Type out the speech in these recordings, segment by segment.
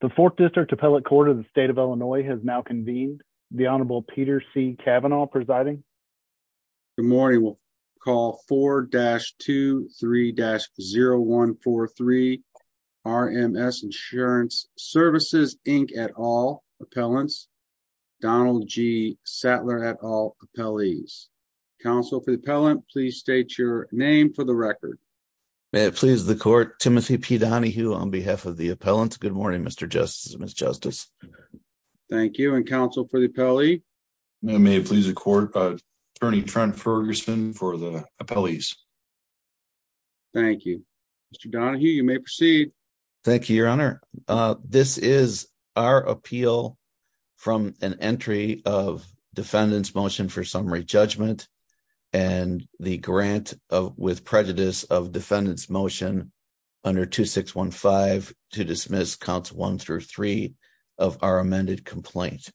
The 4th District Appellate Court of the State of Illinois has now convened. The Honorable Peter C. Kavanaugh presiding. Good morning. We'll call 4-23-0143 RMS Insurance Services, Inc. et al. appellants, Donald G. Sattler et al. appellees. Counsel for the appellant, please state your name for the record. May it please the court, Timothy P. Donahue on behalf of the appellant. Good morning, Mr. Justice and Ms. Justice. Thank you, and counsel for the appellee. May it please the court, Attorney Trent Ferguson for the appellees. Thank you. Mr. Donahue, you may proceed. Thank you, Your Honor. This is our appeal from an entry of defendant's motion for summary judgment and the grant with prejudice of defendant's motion under 2615 to dismiss counts 1 through 3 of our amended complaint.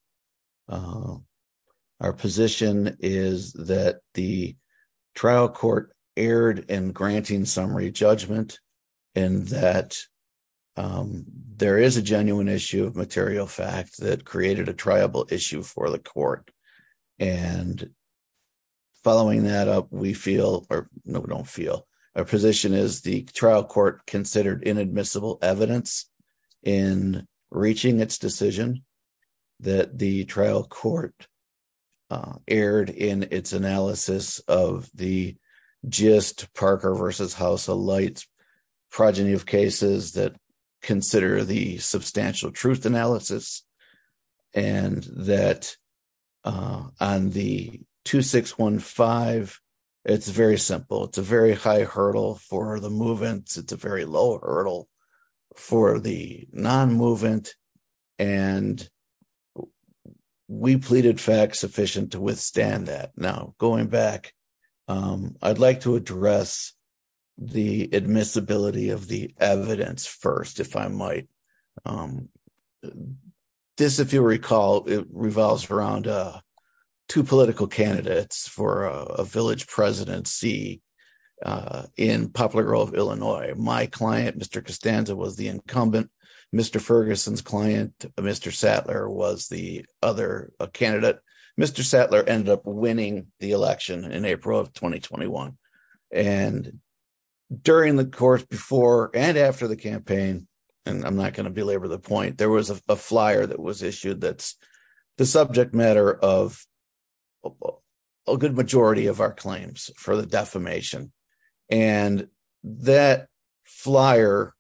Our position is that the trial court erred in granting summary judgment and that there is a genuine issue of material fact that created a triable issue for the court and following that up, we feel or no, we don't feel. Our position is the trial court considered inadmissible evidence in reaching its decision that the trial court erred in its analysis of the just Parker versus House of Lights progeny of cases that consider the substantial truth analysis and that on the 2615, it's very simple. It's a very high hurdle for the movement. It's a very low hurdle for the non-movement and we pleaded fact sufficient to withstand that. Now, going back, I'd like to address the admissibility of the evidence first, if I might. This, if you recall, revolves around two political candidates for a village presidency in Poplar Grove, Illinois. My client, Mr. Costanza, was the incumbent. Mr. Ferguson's client, Mr. Sattler, was the other candidate. Mr. Sattler ended up winning the election in April of 2021 and during the course before and after the campaign, and I'm not going to belabor the point, there was a flyer that was issued that's the subject matter of a good majority of our claims for the defamation and that flyer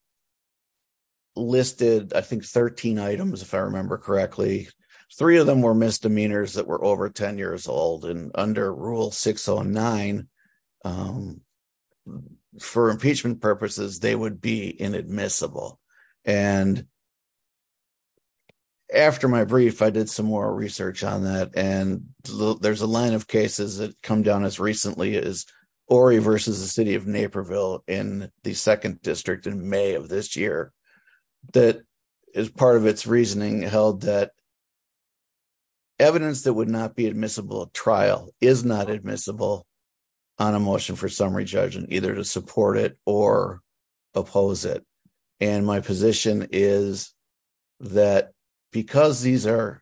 listed, I think, 13 items, if I remember correctly. Three of them were misdemeanors that were over 10 years old and under Rule 609, for inadmissible. After my brief, I did some more research on that and there's a line of cases that come down as recently as Ori versus the City of Naperville in the 2nd District in May of this year that, as part of its reasoning, held that evidence that would not be admissible at trial is not admissible on a motion for summary judgment, either to support it or oppose it, and my position is that because these are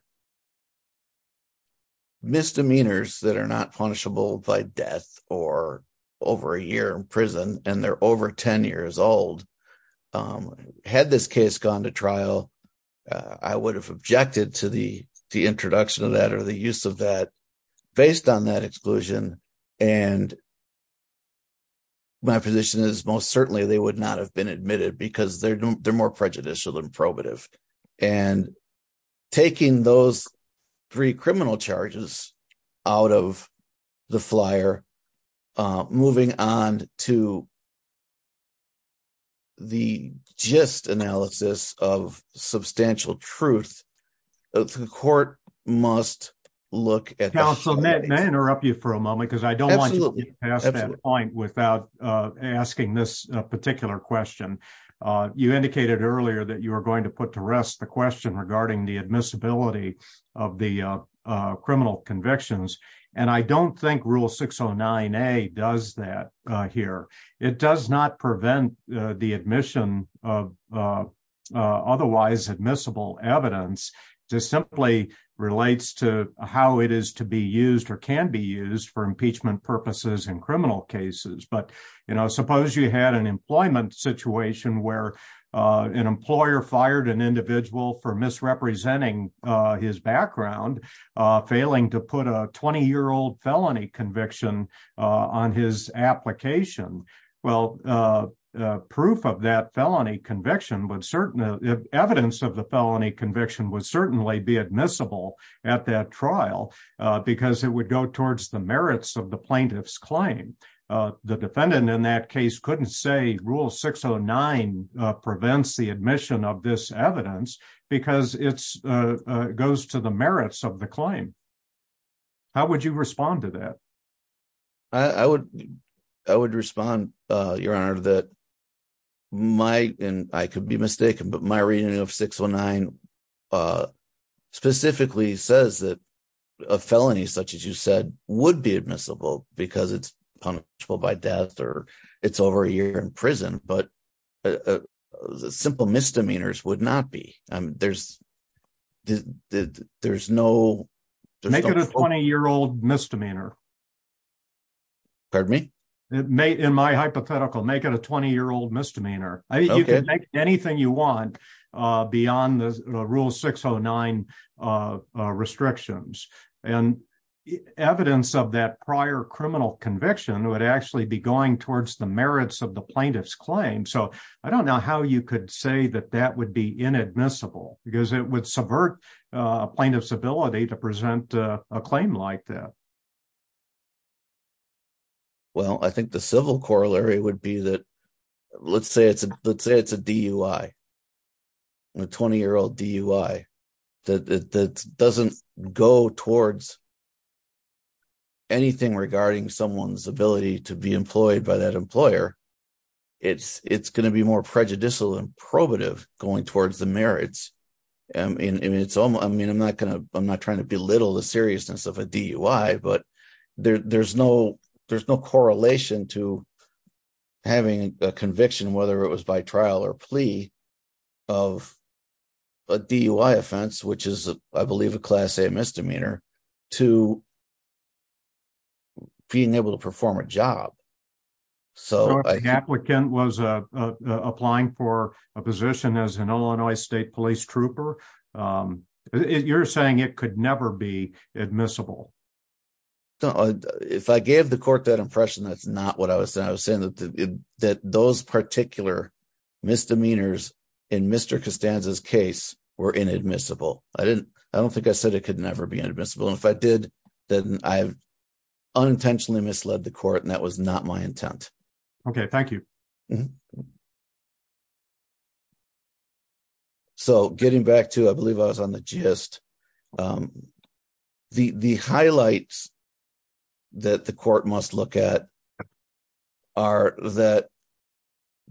misdemeanors that are not punishable by death or over a year in prison and they're over 10 years old, had this case gone to trial, I would have objected to the introduction of that or the use of that based on that exclusion and my position is most certainly they would not have been admitted because they're more prejudicial than probative. Taking those three criminal charges out of the flyer, moving on to the gist analysis of substantial truth, the court must look at the facts. May I interrupt you for a moment because I don't want you to get past that point without asking this particular question. You indicated earlier that you were going to put to rest the question regarding the admissibility of the criminal convictions and I don't think Rule 609A does that here. It does not prevent the admission of otherwise admissible evidence. It simply relates to how it is to be used or can be used for impeachment purposes in criminal cases. Suppose you had an employment situation where an employer fired an individual for misrepresenting his background, failing to put a 20-year-old felony conviction on his application. Proof of that felony conviction, evidence of the plaintiff's claim, would not be admissible at that trial because it would go towards the merits of the plaintiff's claim. The defendant in that case couldn't say Rule 609 prevents the admission of this evidence because it goes to the merits of the claim. How would you respond to that? I would respond, Your Honor, that my, and I could be mistaken, but my reading of 609 specifically says that a felony such as you said would be admissible because it's punishable by death or it's over a year in prison, but simple misdemeanors would not be. There's no... Make it a 20-year-old misdemeanor. Pardon me? In my hypothetical, make it a 20-year-old misdemeanor. You can make it anything you want beyond the Rule 609 restrictions. Evidence of that prior criminal conviction would actually be going towards the merits of the plaintiff's claim. I don't know how you could say that that would be inadmissible because it would subvert a plaintiff's ability to present a claim like that. Well, I think the civil corollary would be that, let's say it's a DUI, a 20-year-old DUI that doesn't go towards anything regarding someone's ability to be employed by that employer. It's going to be more prejudicial and probative going towards the merits. I mean, I'm not trying to belittle the seriousness of a DUI, but there's no correlation to having a conviction, whether it was by trial or plea, of a DUI offense, which is, I believe, a Class A misdemeanor, to being able to perform a job. So if an applicant was applying for a position as an Illinois State Police Trooper, you're saying it could never be admissible? If I gave the court that impression, that's not what I was saying. I was saying that those particular misdemeanors in Mr. Costanza's case were inadmissible. I don't think I said it could never be inadmissible, and if I did, then I unintentionally misled the court, and that was not my intent. Okay, thank you. So, getting back to, I believe I was on the gist, the highlights that the court must look at are that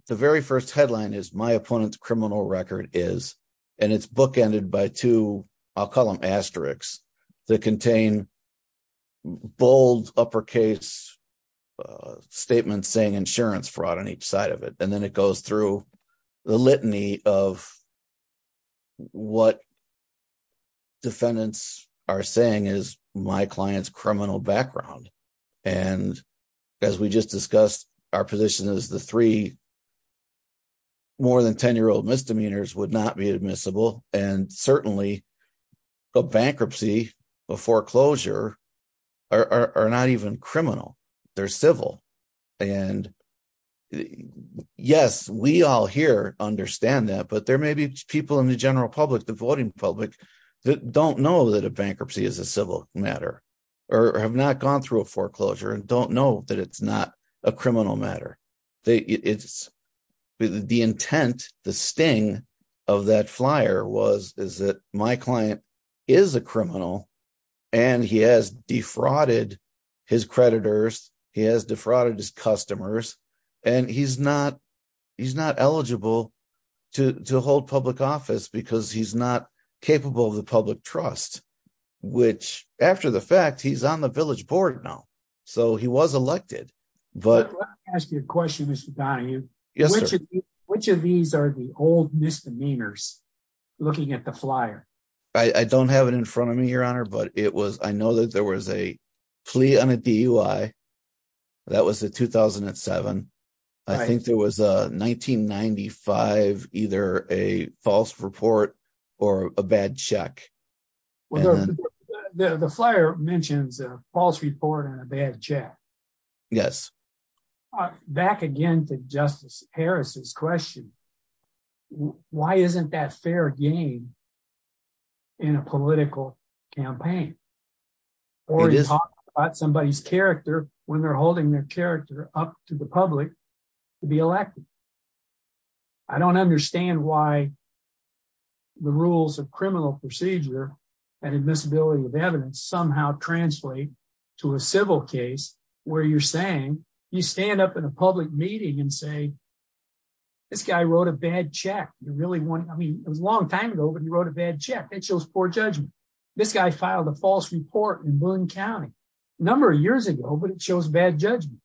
the very first headline is, my opponent's criminal record is, and it's bookended by two, I'll call them asterisks, that contain bold, uppercase statements saying insurance fraud on each side of it, and then it goes through the litany of what defendants are saying is my client's criminal background, and as we just discussed, our position is the three more-than-10-year-old misdemeanors would not be admissible, and certainly a bankruptcy, a foreclosure, are not even criminal. They're civil, and yes, we all here understand that, but there may be people in the general public, the voting public, that don't know that a bankruptcy is a civil matter, or have not gone through a foreclosure, and don't know that it's not a criminal matter. The intent, the sting of that flyer is that my client is a criminal, and he has defrauded his creditors, he has defrauded his customers, and he's not eligible to hold public office because he's not capable of the public trust, which, after the fact, he's on the village board now, so he was elected, but... Let me ask you a question, Mr. Donahue. Yes, sir. Which of these are the old misdemeanors looking at the flyer? I don't have it in front of me, Your Honor, but I know that there was a plea on a DUI. That was in 2007. I think there was a 1995, either a false report or a bad check. The flyer mentions a false report and a bad check. Yes. Back again to Justice Harris's question, why isn't that fair game in a political campaign? Or you talk about somebody's character when they're holding their character up to the public to be elected. I don't understand why the rules of criminal procedure and admissibility of evidence somehow translate to a civil case where you're saying, you stand up in a public meeting and say, this guy wrote a bad check. It was a long time ago, but he wrote a bad check. That shows poor judgment. This guy filed a false report in Boone County a number of years ago, but it shows bad judgment.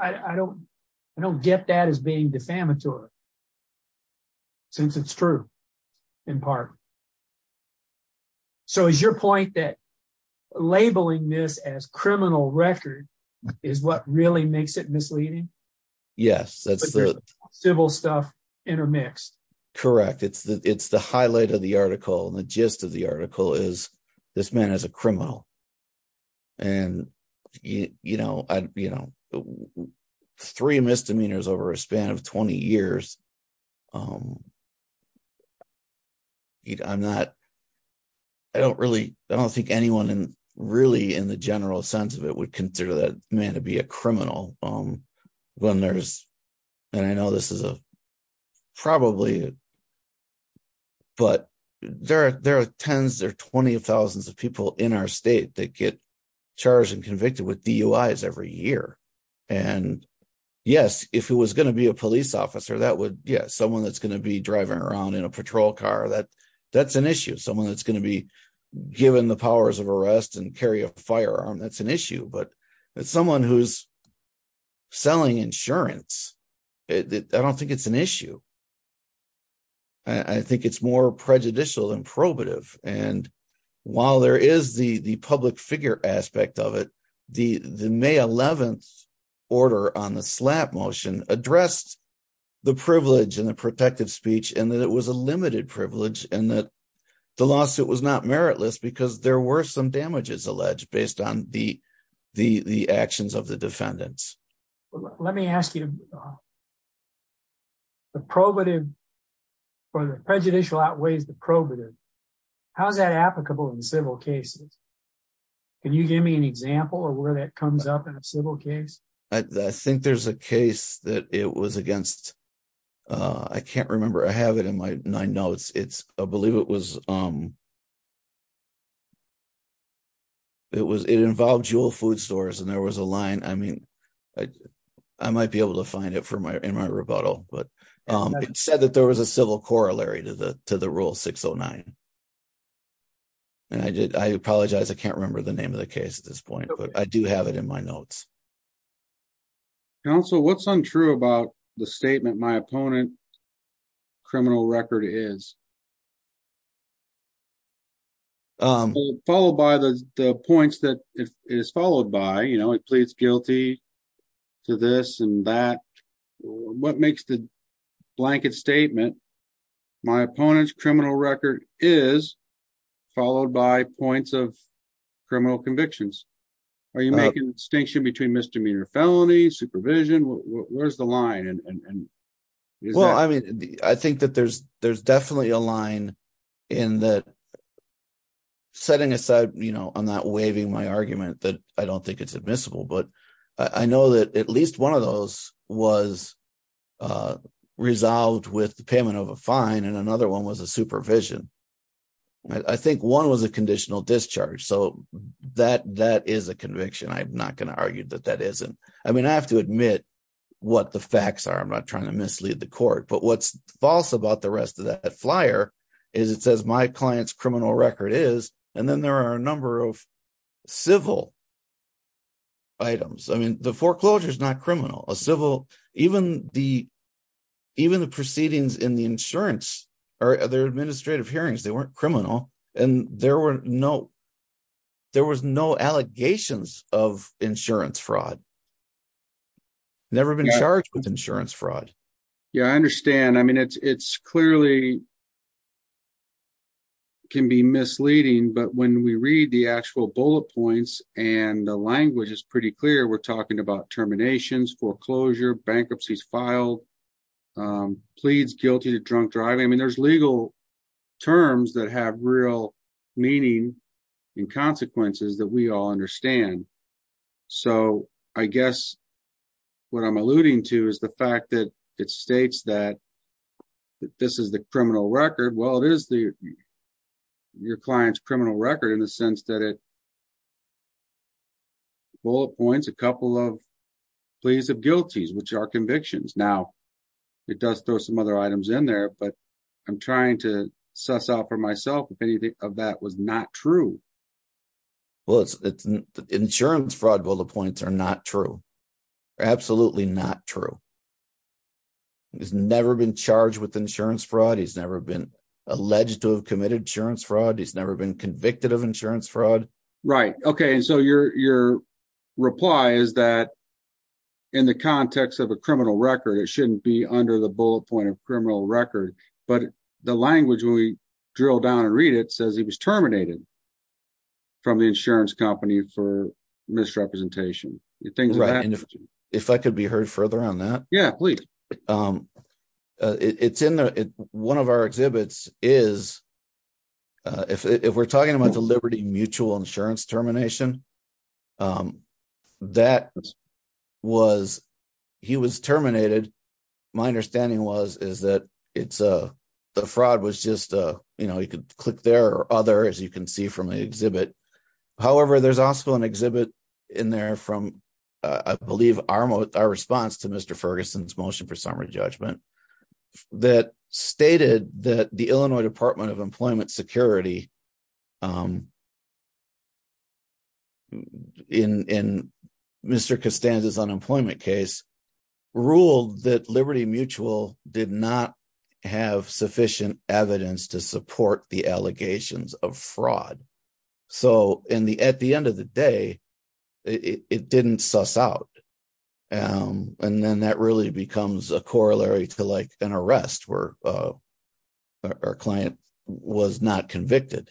I don't get that as being defamatory, since it's true, in part. Is your point that labeling this as criminal record is what really makes it misleading? Yes. Civil stuff intermixed. Correct. It's the highlight of the article and the gist of the article is this man is a criminal. Three misdemeanors over a span of 20 years. I don't think anyone in the general sense of it would consider that man to be a criminal when there's, and I know this is probably, but there are tens, there are 20,000s of people in our state that get charged and convicted with DUIs every year. Yes, if it was going to be a police officer, someone that's going to be driving around in a patrol car, that's an issue. Someone that's going to be given the powers of arrest and carry a firearm, that's an issue. But someone who's selling insurance, I don't think it's an issue. I think it's more prejudicial than probative. While there is the public figure aspect of it, the May 11th order on the slap motion addressed the privilege and the protective speech and that it was a limited privilege and that the lawsuit was not meritless because there were some damages alleged based on the actions of the defendants. Let me ask you, the probative, the prejudicial outweighs the probative. How is that applicable in civil cases? Can you give me an example of where that comes up in a civil case? I think there's a case that it was against, I can't remember. I have it in my notes. I believe it was it involved Jewel Food Stores and there was a line, I might be able to find it in my rebuttal. It said that there was a civil corollary to the Rule 609. I apologize, I can't remember the name of the case at this point. I do have it in my notes. What's untrue about the statement, my opponent criminal record is? Followed by the points that it is followed by, pleads guilty to this and that. What makes the blanket statement, my opponent's criminal record is followed by points of criminal convictions? Are you making a distinction between misdemeanor felony, supervision? Where's the line? I think that there's definitely a line in that setting aside on that waving my argument that I don't think it's admissible, but I know that at least one of those was resolved with the payment of a fine and another one was a supervision. I think one was a conditional discharge. That is a conviction. I'm not going to argue that that isn't. I have to I'm not trying to mislead the court, but what's false about the rest of that flyer is it says my client's criminal record is and then there are a number of civil items. The foreclosure is not criminal. Even the proceedings in the insurance or their administrative hearings, they weren't criminal and there were no allegations of insurance fraud. Never been charged with insurance fraud. Yeah, I understand. I mean, it's clearly can be misleading, but when we read the actual bullet points and the language is pretty clear, we're talking about terminations, foreclosure, bankruptcies filed, pleads guilty to drunk driving. I mean, there's legal terms that have real meaning and consequences that we all understand. So I guess what I'm alluding to is the fact that it states that this is the criminal record. Well, it is your client's criminal record in the sense that it bullet points a couple of pleas of guilties, which are convictions. Now, it does throw some other items in there, but I'm trying to suss out for myself if anything of that was not true. Well, the insurance fraud bullet points are not true. Absolutely not true. He's never been charged with insurance fraud. He's never been alleged to have committed insurance fraud. He's never been convicted of insurance fraud. Right. OK. So your reply is that in the context of a criminal record, it shouldn't be under the bullet point of criminal record. But the language, when we drill down and read it, says he was terminated from the insurance company for misrepresentation. If I could be heard further on that. Yeah, please. One of our exhibits is, if we're talking about the Liberty Mutual Insurance termination, that was, he was terminated. My understanding was that it's the fraud was just, you know, you could click there or other, as you can see from the exhibit. However, there's also an exhibit in there from, I believe, our response to Mr. Ferguson's motion for summary judgment that stated that the Illinois Department of Employment Security in Mr. Costanza's unemployment case ruled that Liberty Mutual did not have sufficient evidence to support the allegations of fraud. So at the end of the day, it didn't suss out. And then that really becomes a corollary to, like, an arrest where a client was not convicted.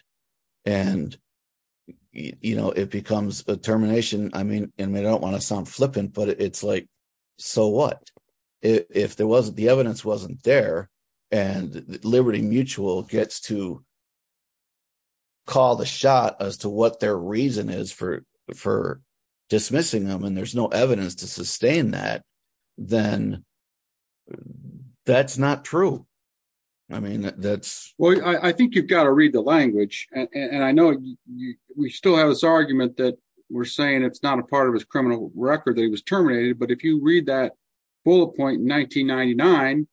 And, you know, it becomes a termination. I mean, and I don't want to sound flippant, but it's like, so what? If the evidence wasn't there and Liberty Mutual gets to call the shot as to what their reason is for dismissing them and there's no evidence to sustain that, then that's not true. I mean, that's... Well, I think you've got to read the language. And I know we still have this argument that we're saying it's not a part of his criminal record that he was fully appointed in 1999.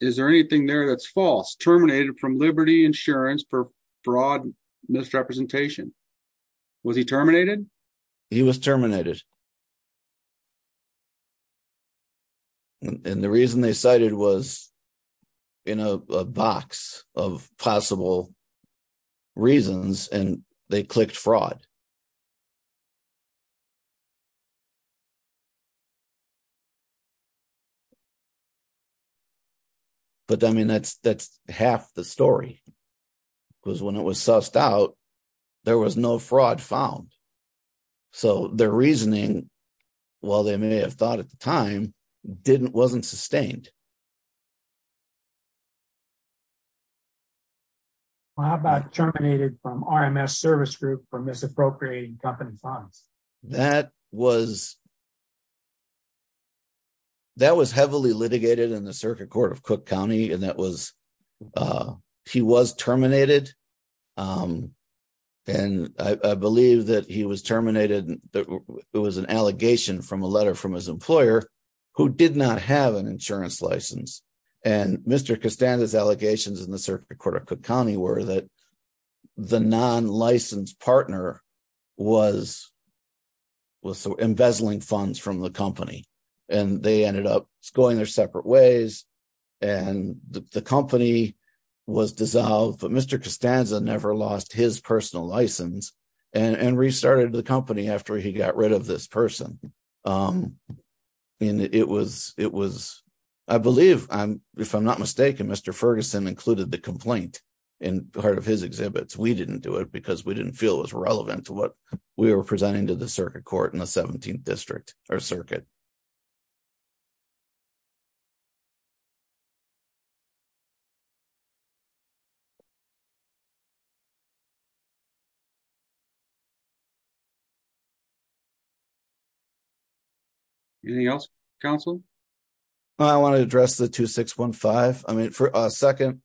Is there anything there that's false? Terminated from Liberty Insurance for fraud misrepresentation. Was he terminated? He was terminated. And the reason they cited was in a box of possible reasons, and they clicked fraud. But, I mean, that's half the story. Because when it was sussed out there was no fraud found. So their reasoning while they may have thought at the time, wasn't sustained. How about terminated from RMS Service Group for misappropriating company funds? That was heavily litigated in the Circuit Court of Cook County and that was... He was terminated and I believe that he was terminated it was an allegation from a letter from his employer who did not have an insurance license. And Mr. Costanza's allegations in the Circuit Court of Cook County were that the non-licensed partner was embezzling funds from the company. And they ended up going their separate ways and the company was dissolved. But Mr. Costanza never lost his personal license and restarted the company after he got rid of this person. And it was, I believe if I'm not mistaken, Mr. Ferguson included the complaint in part of his exhibits. We didn't do it because we didn't feel it was relevant to what we were presenting to the Circuit Court in the 17th District or Circuit. Anything else Councilor? I want to address the 2615. I mean for a second,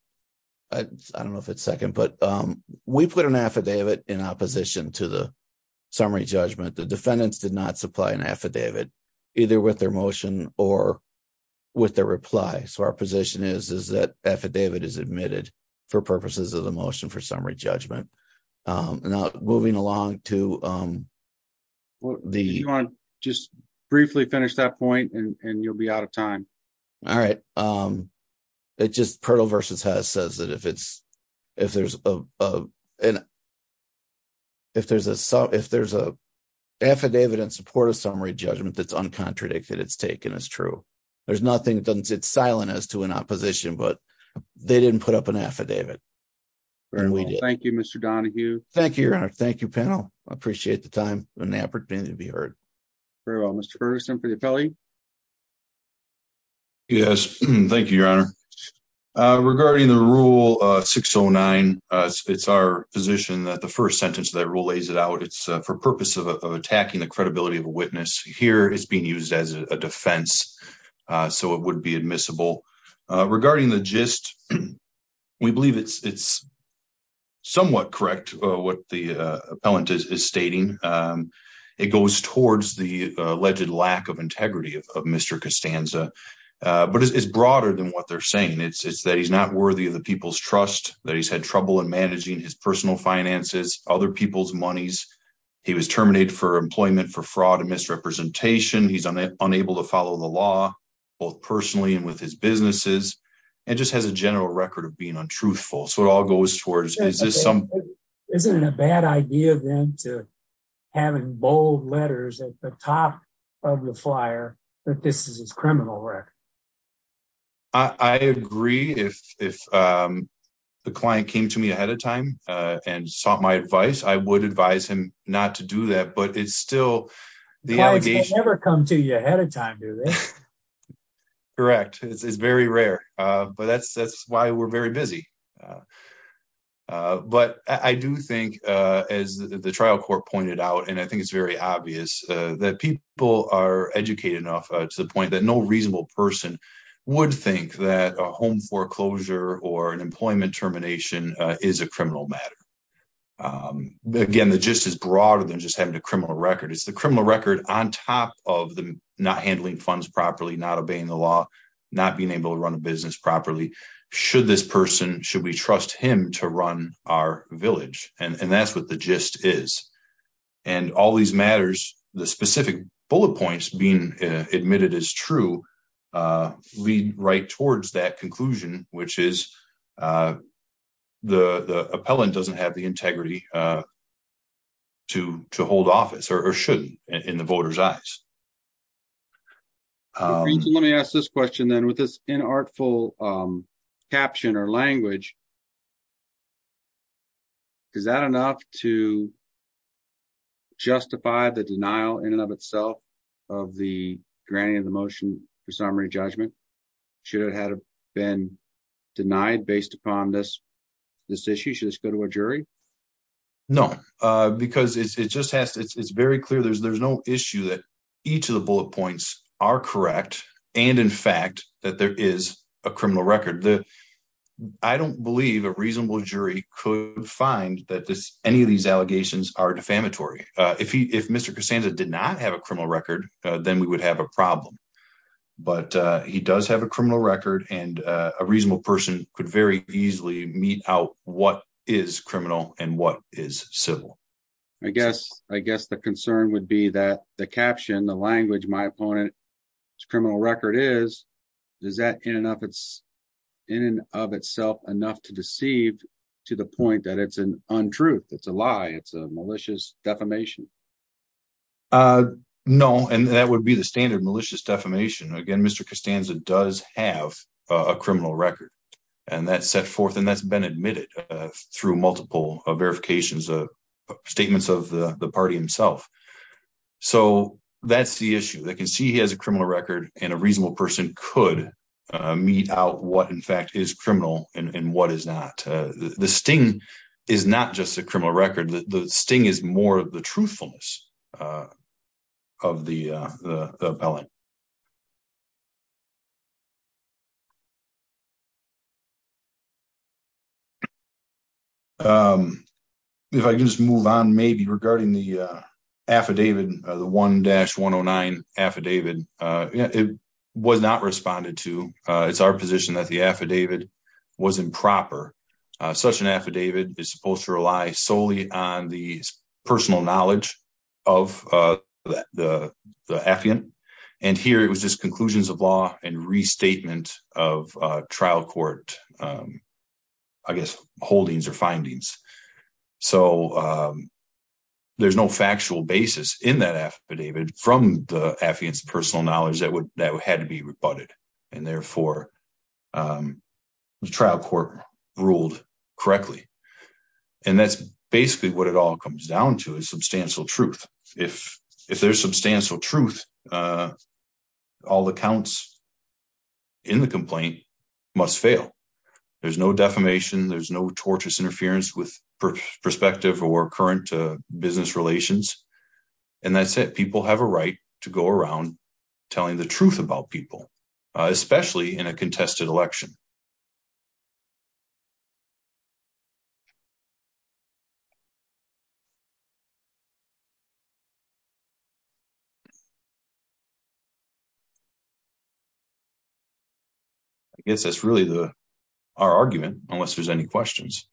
I don't know if it's for a second, but we put an affidavit in opposition to the summary judgment. The defendants did not supply an affidavit either with their motion or with their reply. So our position is that affidavit is admitted for purposes of the motion for summary judgment. Now moving along to the... If you want to just briefly finish that point and you'll be out of time. All right. It's just if there's a affidavit in support of summary judgment that's uncontradicted, it's taken as true. There's nothing that doesn't sit silent as to an opposition, but they didn't put up an affidavit. Thank you, Mr. Donohue. Thank you, Your Honor. Thank you, panel. I appreciate the time and the opportunity to be heard. Very well. Mr. Ferguson for the appellee? Yes. Thank you, Your Honor. Regarding the Rule 609, it's our position that the first sentence of that rule lays it out. It's for purpose of attacking the credibility of a witness. Here it's being used as a defense so it would be admissible. Regarding the gist, we believe it's somewhat correct what the appellant is stating. It goes towards the alleged lack of integrity of Mr. Costanza, but it's broader than what they're saying. It's that he's not worthy of the people's trust, that he's had trouble in managing his personal finances, other people's monies. He was terminated for employment for fraud and misrepresentation. He's unable to follow the law, both personally and with his businesses, and just has a general record of being untruthful. So it all goes towards... Is it a bad idea, then, to have in bold letters at the top of the criminal record? I agree. If the client came to me ahead of time and sought my advice, I would advise him not to do that, but it's still... Clients can never come to you ahead of time, do they? Correct. It's very rare, but that's why we're very busy. But I do think, as the trial court pointed out, and I think it's very obvious, that people are educated enough to the point that no reasonable person would think that a home foreclosure or an employment termination is a criminal matter. Again, the gist is broader than just having a criminal record. It's the criminal record on top of them not handling funds properly, not obeying the law, not being able to run a business properly. Should this person... Should we trust him to run our village? And that's what the gist is. And all these matters, the specific bullet points being admitted as true, lead right towards that conclusion, which is the appellant doesn't have the integrity to hold office, or shouldn't, in the voters' eyes. Let me ask this question then. With this inartful caption or language, is that enough to justify the denial in and of itself of the granting of the motion for summary judgment? Should it have been denied based upon this issue? Should this go to a jury? No. Because it just has to... It's very clear. There's no issue that each of the bullet points are correct and, in fact, that there is a criminal record. I don't believe a reasonable jury could find that any of these allegations are defamatory. If Mr. Casanza did not have a criminal record, then we would have a problem. But he does have a criminal record, and a reasonable person could very easily mete out what is criminal and what is civil. I guess the concern would be that the caption, the language, my opponent's criminal record is, is that in and of itself enough to deceive to the point that it's an untruth, it's a lie, it's a malicious defamation? No, and that would be the standard malicious defamation. Again, Mr. Casanza does have a criminal record, and that's set forth and that's been admitted through multiple verifications, statements of the party himself. So that's the issue. They can see he has a criminal record and a reasonable person could mete out what, in fact, is the sting is not just a criminal record, the sting is more the truthfulness of the appellate. If I can just move on, maybe regarding the affidavit, the 1-109 affidavit, it was not responded to. It's our position that the affidavit was improper. Such an affidavit is supposed to rely solely on the personal knowledge of the affiant, and here it was just conclusions of law and restatement of trial court holdings or findings. So there's no factual basis in that affidavit from the affiant's personal knowledge that had to be rebutted, and therefore the trial court ruled correctly. And that's basically what it all comes down to is substantial truth. If there's substantial truth, all the counts in the complaint must fail. There's no defamation, there's no tortious interference with perspective or current business relations, and that's it. People have a right to go around telling the truth about people, especially in a contested election. I guess that's really our argument, unless there's any questions.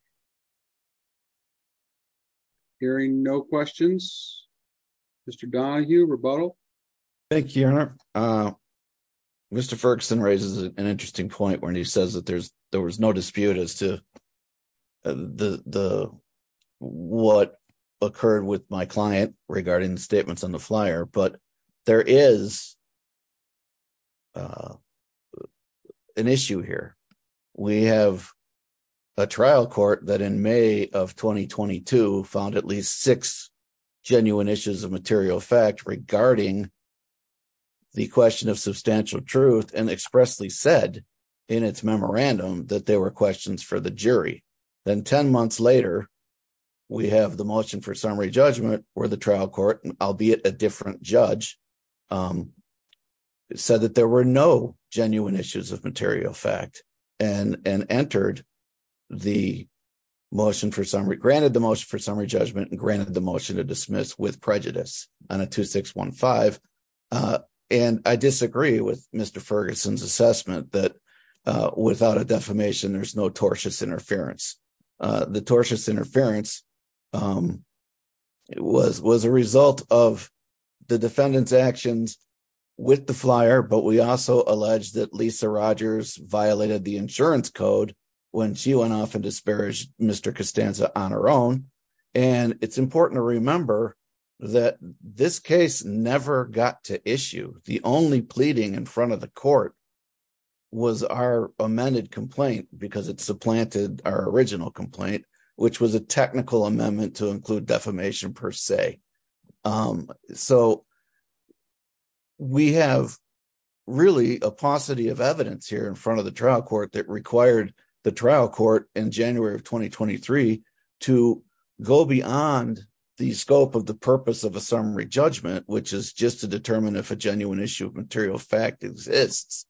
Hearing no questions, Mr. Donohue, rebuttal? Thank you, Your Honor. Mr. Ferguson raises an interesting point when he says that there was no dispute as to what occurred with my client regarding the statements on the flyer, but there is an issue here. We have a trial court that in May of 2022 found at least six genuine issues of material fact regarding the question of substantial truth and expressly said in its memorandum that they were questions for the jury. Then 10 months later we have the motion for summary judgment where the trial court, albeit a different judge, said that there were no genuine issues of material fact and entered the motion for summary judgment and granted the motion to dismiss with prejudice on a 2615. I disagree with Mr. Ferguson's assessment that without a defamation there's no tortious interference. The tortious interference was a result of the defendant's actions with the flyer, but we also allege that Lisa Rogers violated the insurance code when she went off and disparaged Mr. Costanza on her own. It's important to remember that this case never got to issue. The only pleading in front of the court was our amended complaint because it supplanted our original complaint, which was a technical amendment to include defamation per se. We have really a paucity of evidence here in front of the trial court that required the trial court in January of 2023 to go beyond the scope of the purpose of a summary judgment, which is just to determine if a genuine issue of material fact exists,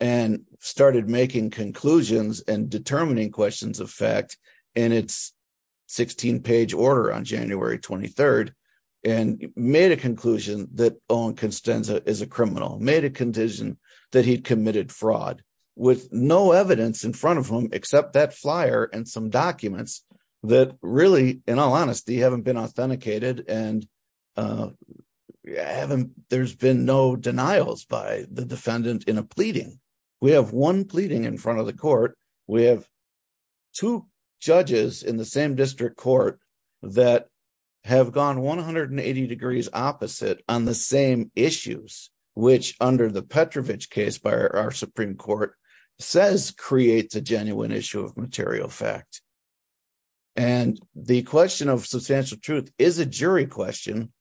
and started making conclusions and determining questions of fact in its 16-page order on January 23rd and made a conclusion that Owen Costanza is a criminal, made a condition that he'd committed fraud, with no evidence in front of him except that flyer and some documents that really, in all honesty, haven't been authenticated and there's been no denials by the defendant in a pleading. We have one pleading in front of the court. We have two judges in the same district court that have gone 180 degrees opposite on the same issues, which under the Petrovich case by our Supreme Court says creates a genuine issue of material fact. And the question of substantial truth is a jury question,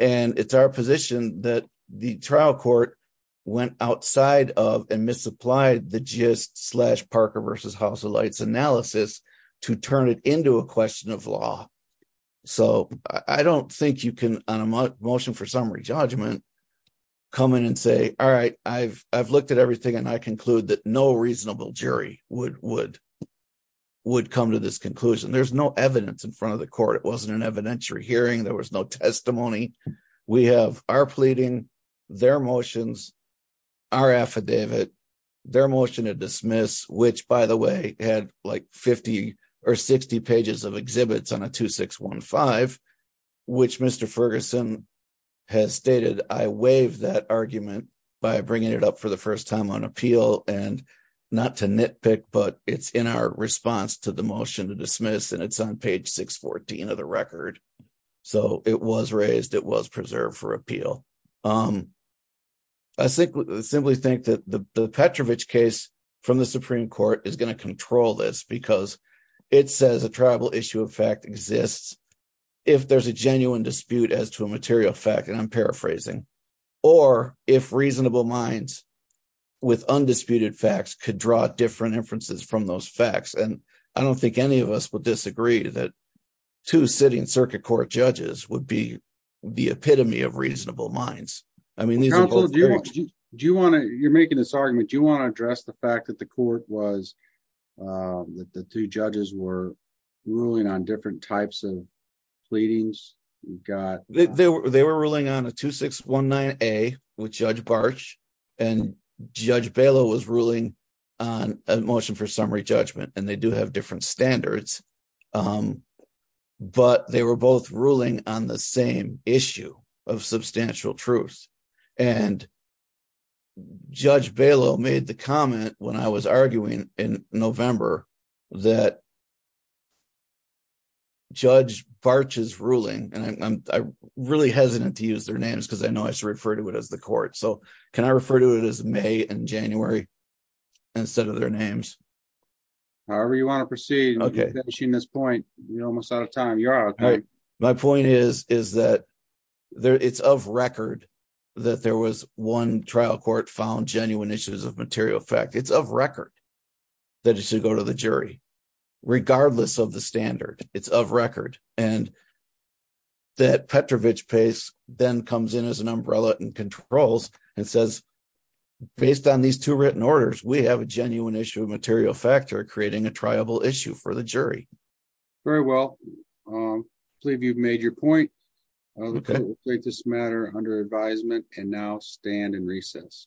and it's our position that the trial court went outside of and misapplied the GIST slash Parker v. House of Lights analysis to turn it into a question of law. So I don't think you can, on a motion for summary judgment, come in and say all right, I've looked at everything and I conclude that no reasonable jury would come to this conclusion. There's no evidence in front of the court. It wasn't an evidentiary hearing. There was no testimony. We have our pleading, their motions, our affidavit, their motion to dismiss, which by the way had like 50 or 60 pages of exhibits on a 2615, which Mr. Ferguson has stated I waive that argument by bringing it up for the first time on appeal and not to nitpick, but it's in our response to the motion to dismiss, and it's on page 614 of the record. So it was raised. It was preserved for appeal. I simply think that the Petrovich case from the Supreme Court is going to control this because it says a tribal issue of fact exists if there's a genuine dispute as to a material fact, and I'm paraphrasing, or if reasonable minds with undisputed facts could draw different inferences from those facts, and I don't think any of us would disagree that two sitting circuit court judges would be the epitome of reasonable minds. I mean these are both... You're making this argument. Do you want to address the fact that the court was that the two judges were ruling on different types of They were ruling on a 2619A with Judge Barch and Judge Balow was ruling on a motion for summary judgment, and they do have different standards but they were both ruling on the same issue of substantial truth, and Judge Balow made the comment when I was arguing in November that Judge Barch's I'm really hesitant to use their names because I know I should refer to it as the court, so can I refer to it as May and January instead of their names? However you want to proceed. You're almost out of time. My point is that it's of record that there was one trial court found genuine issues of material fact. It's of record that it should go to the jury regardless of the standard. It's of record and that Petrovich case then comes in as an umbrella and controls and says based on these two written orders we have a genuine issue of material factor creating a triable issue for the jury. Very well. I believe you've made your point. We'll take this matter under advisement and now stand in recess.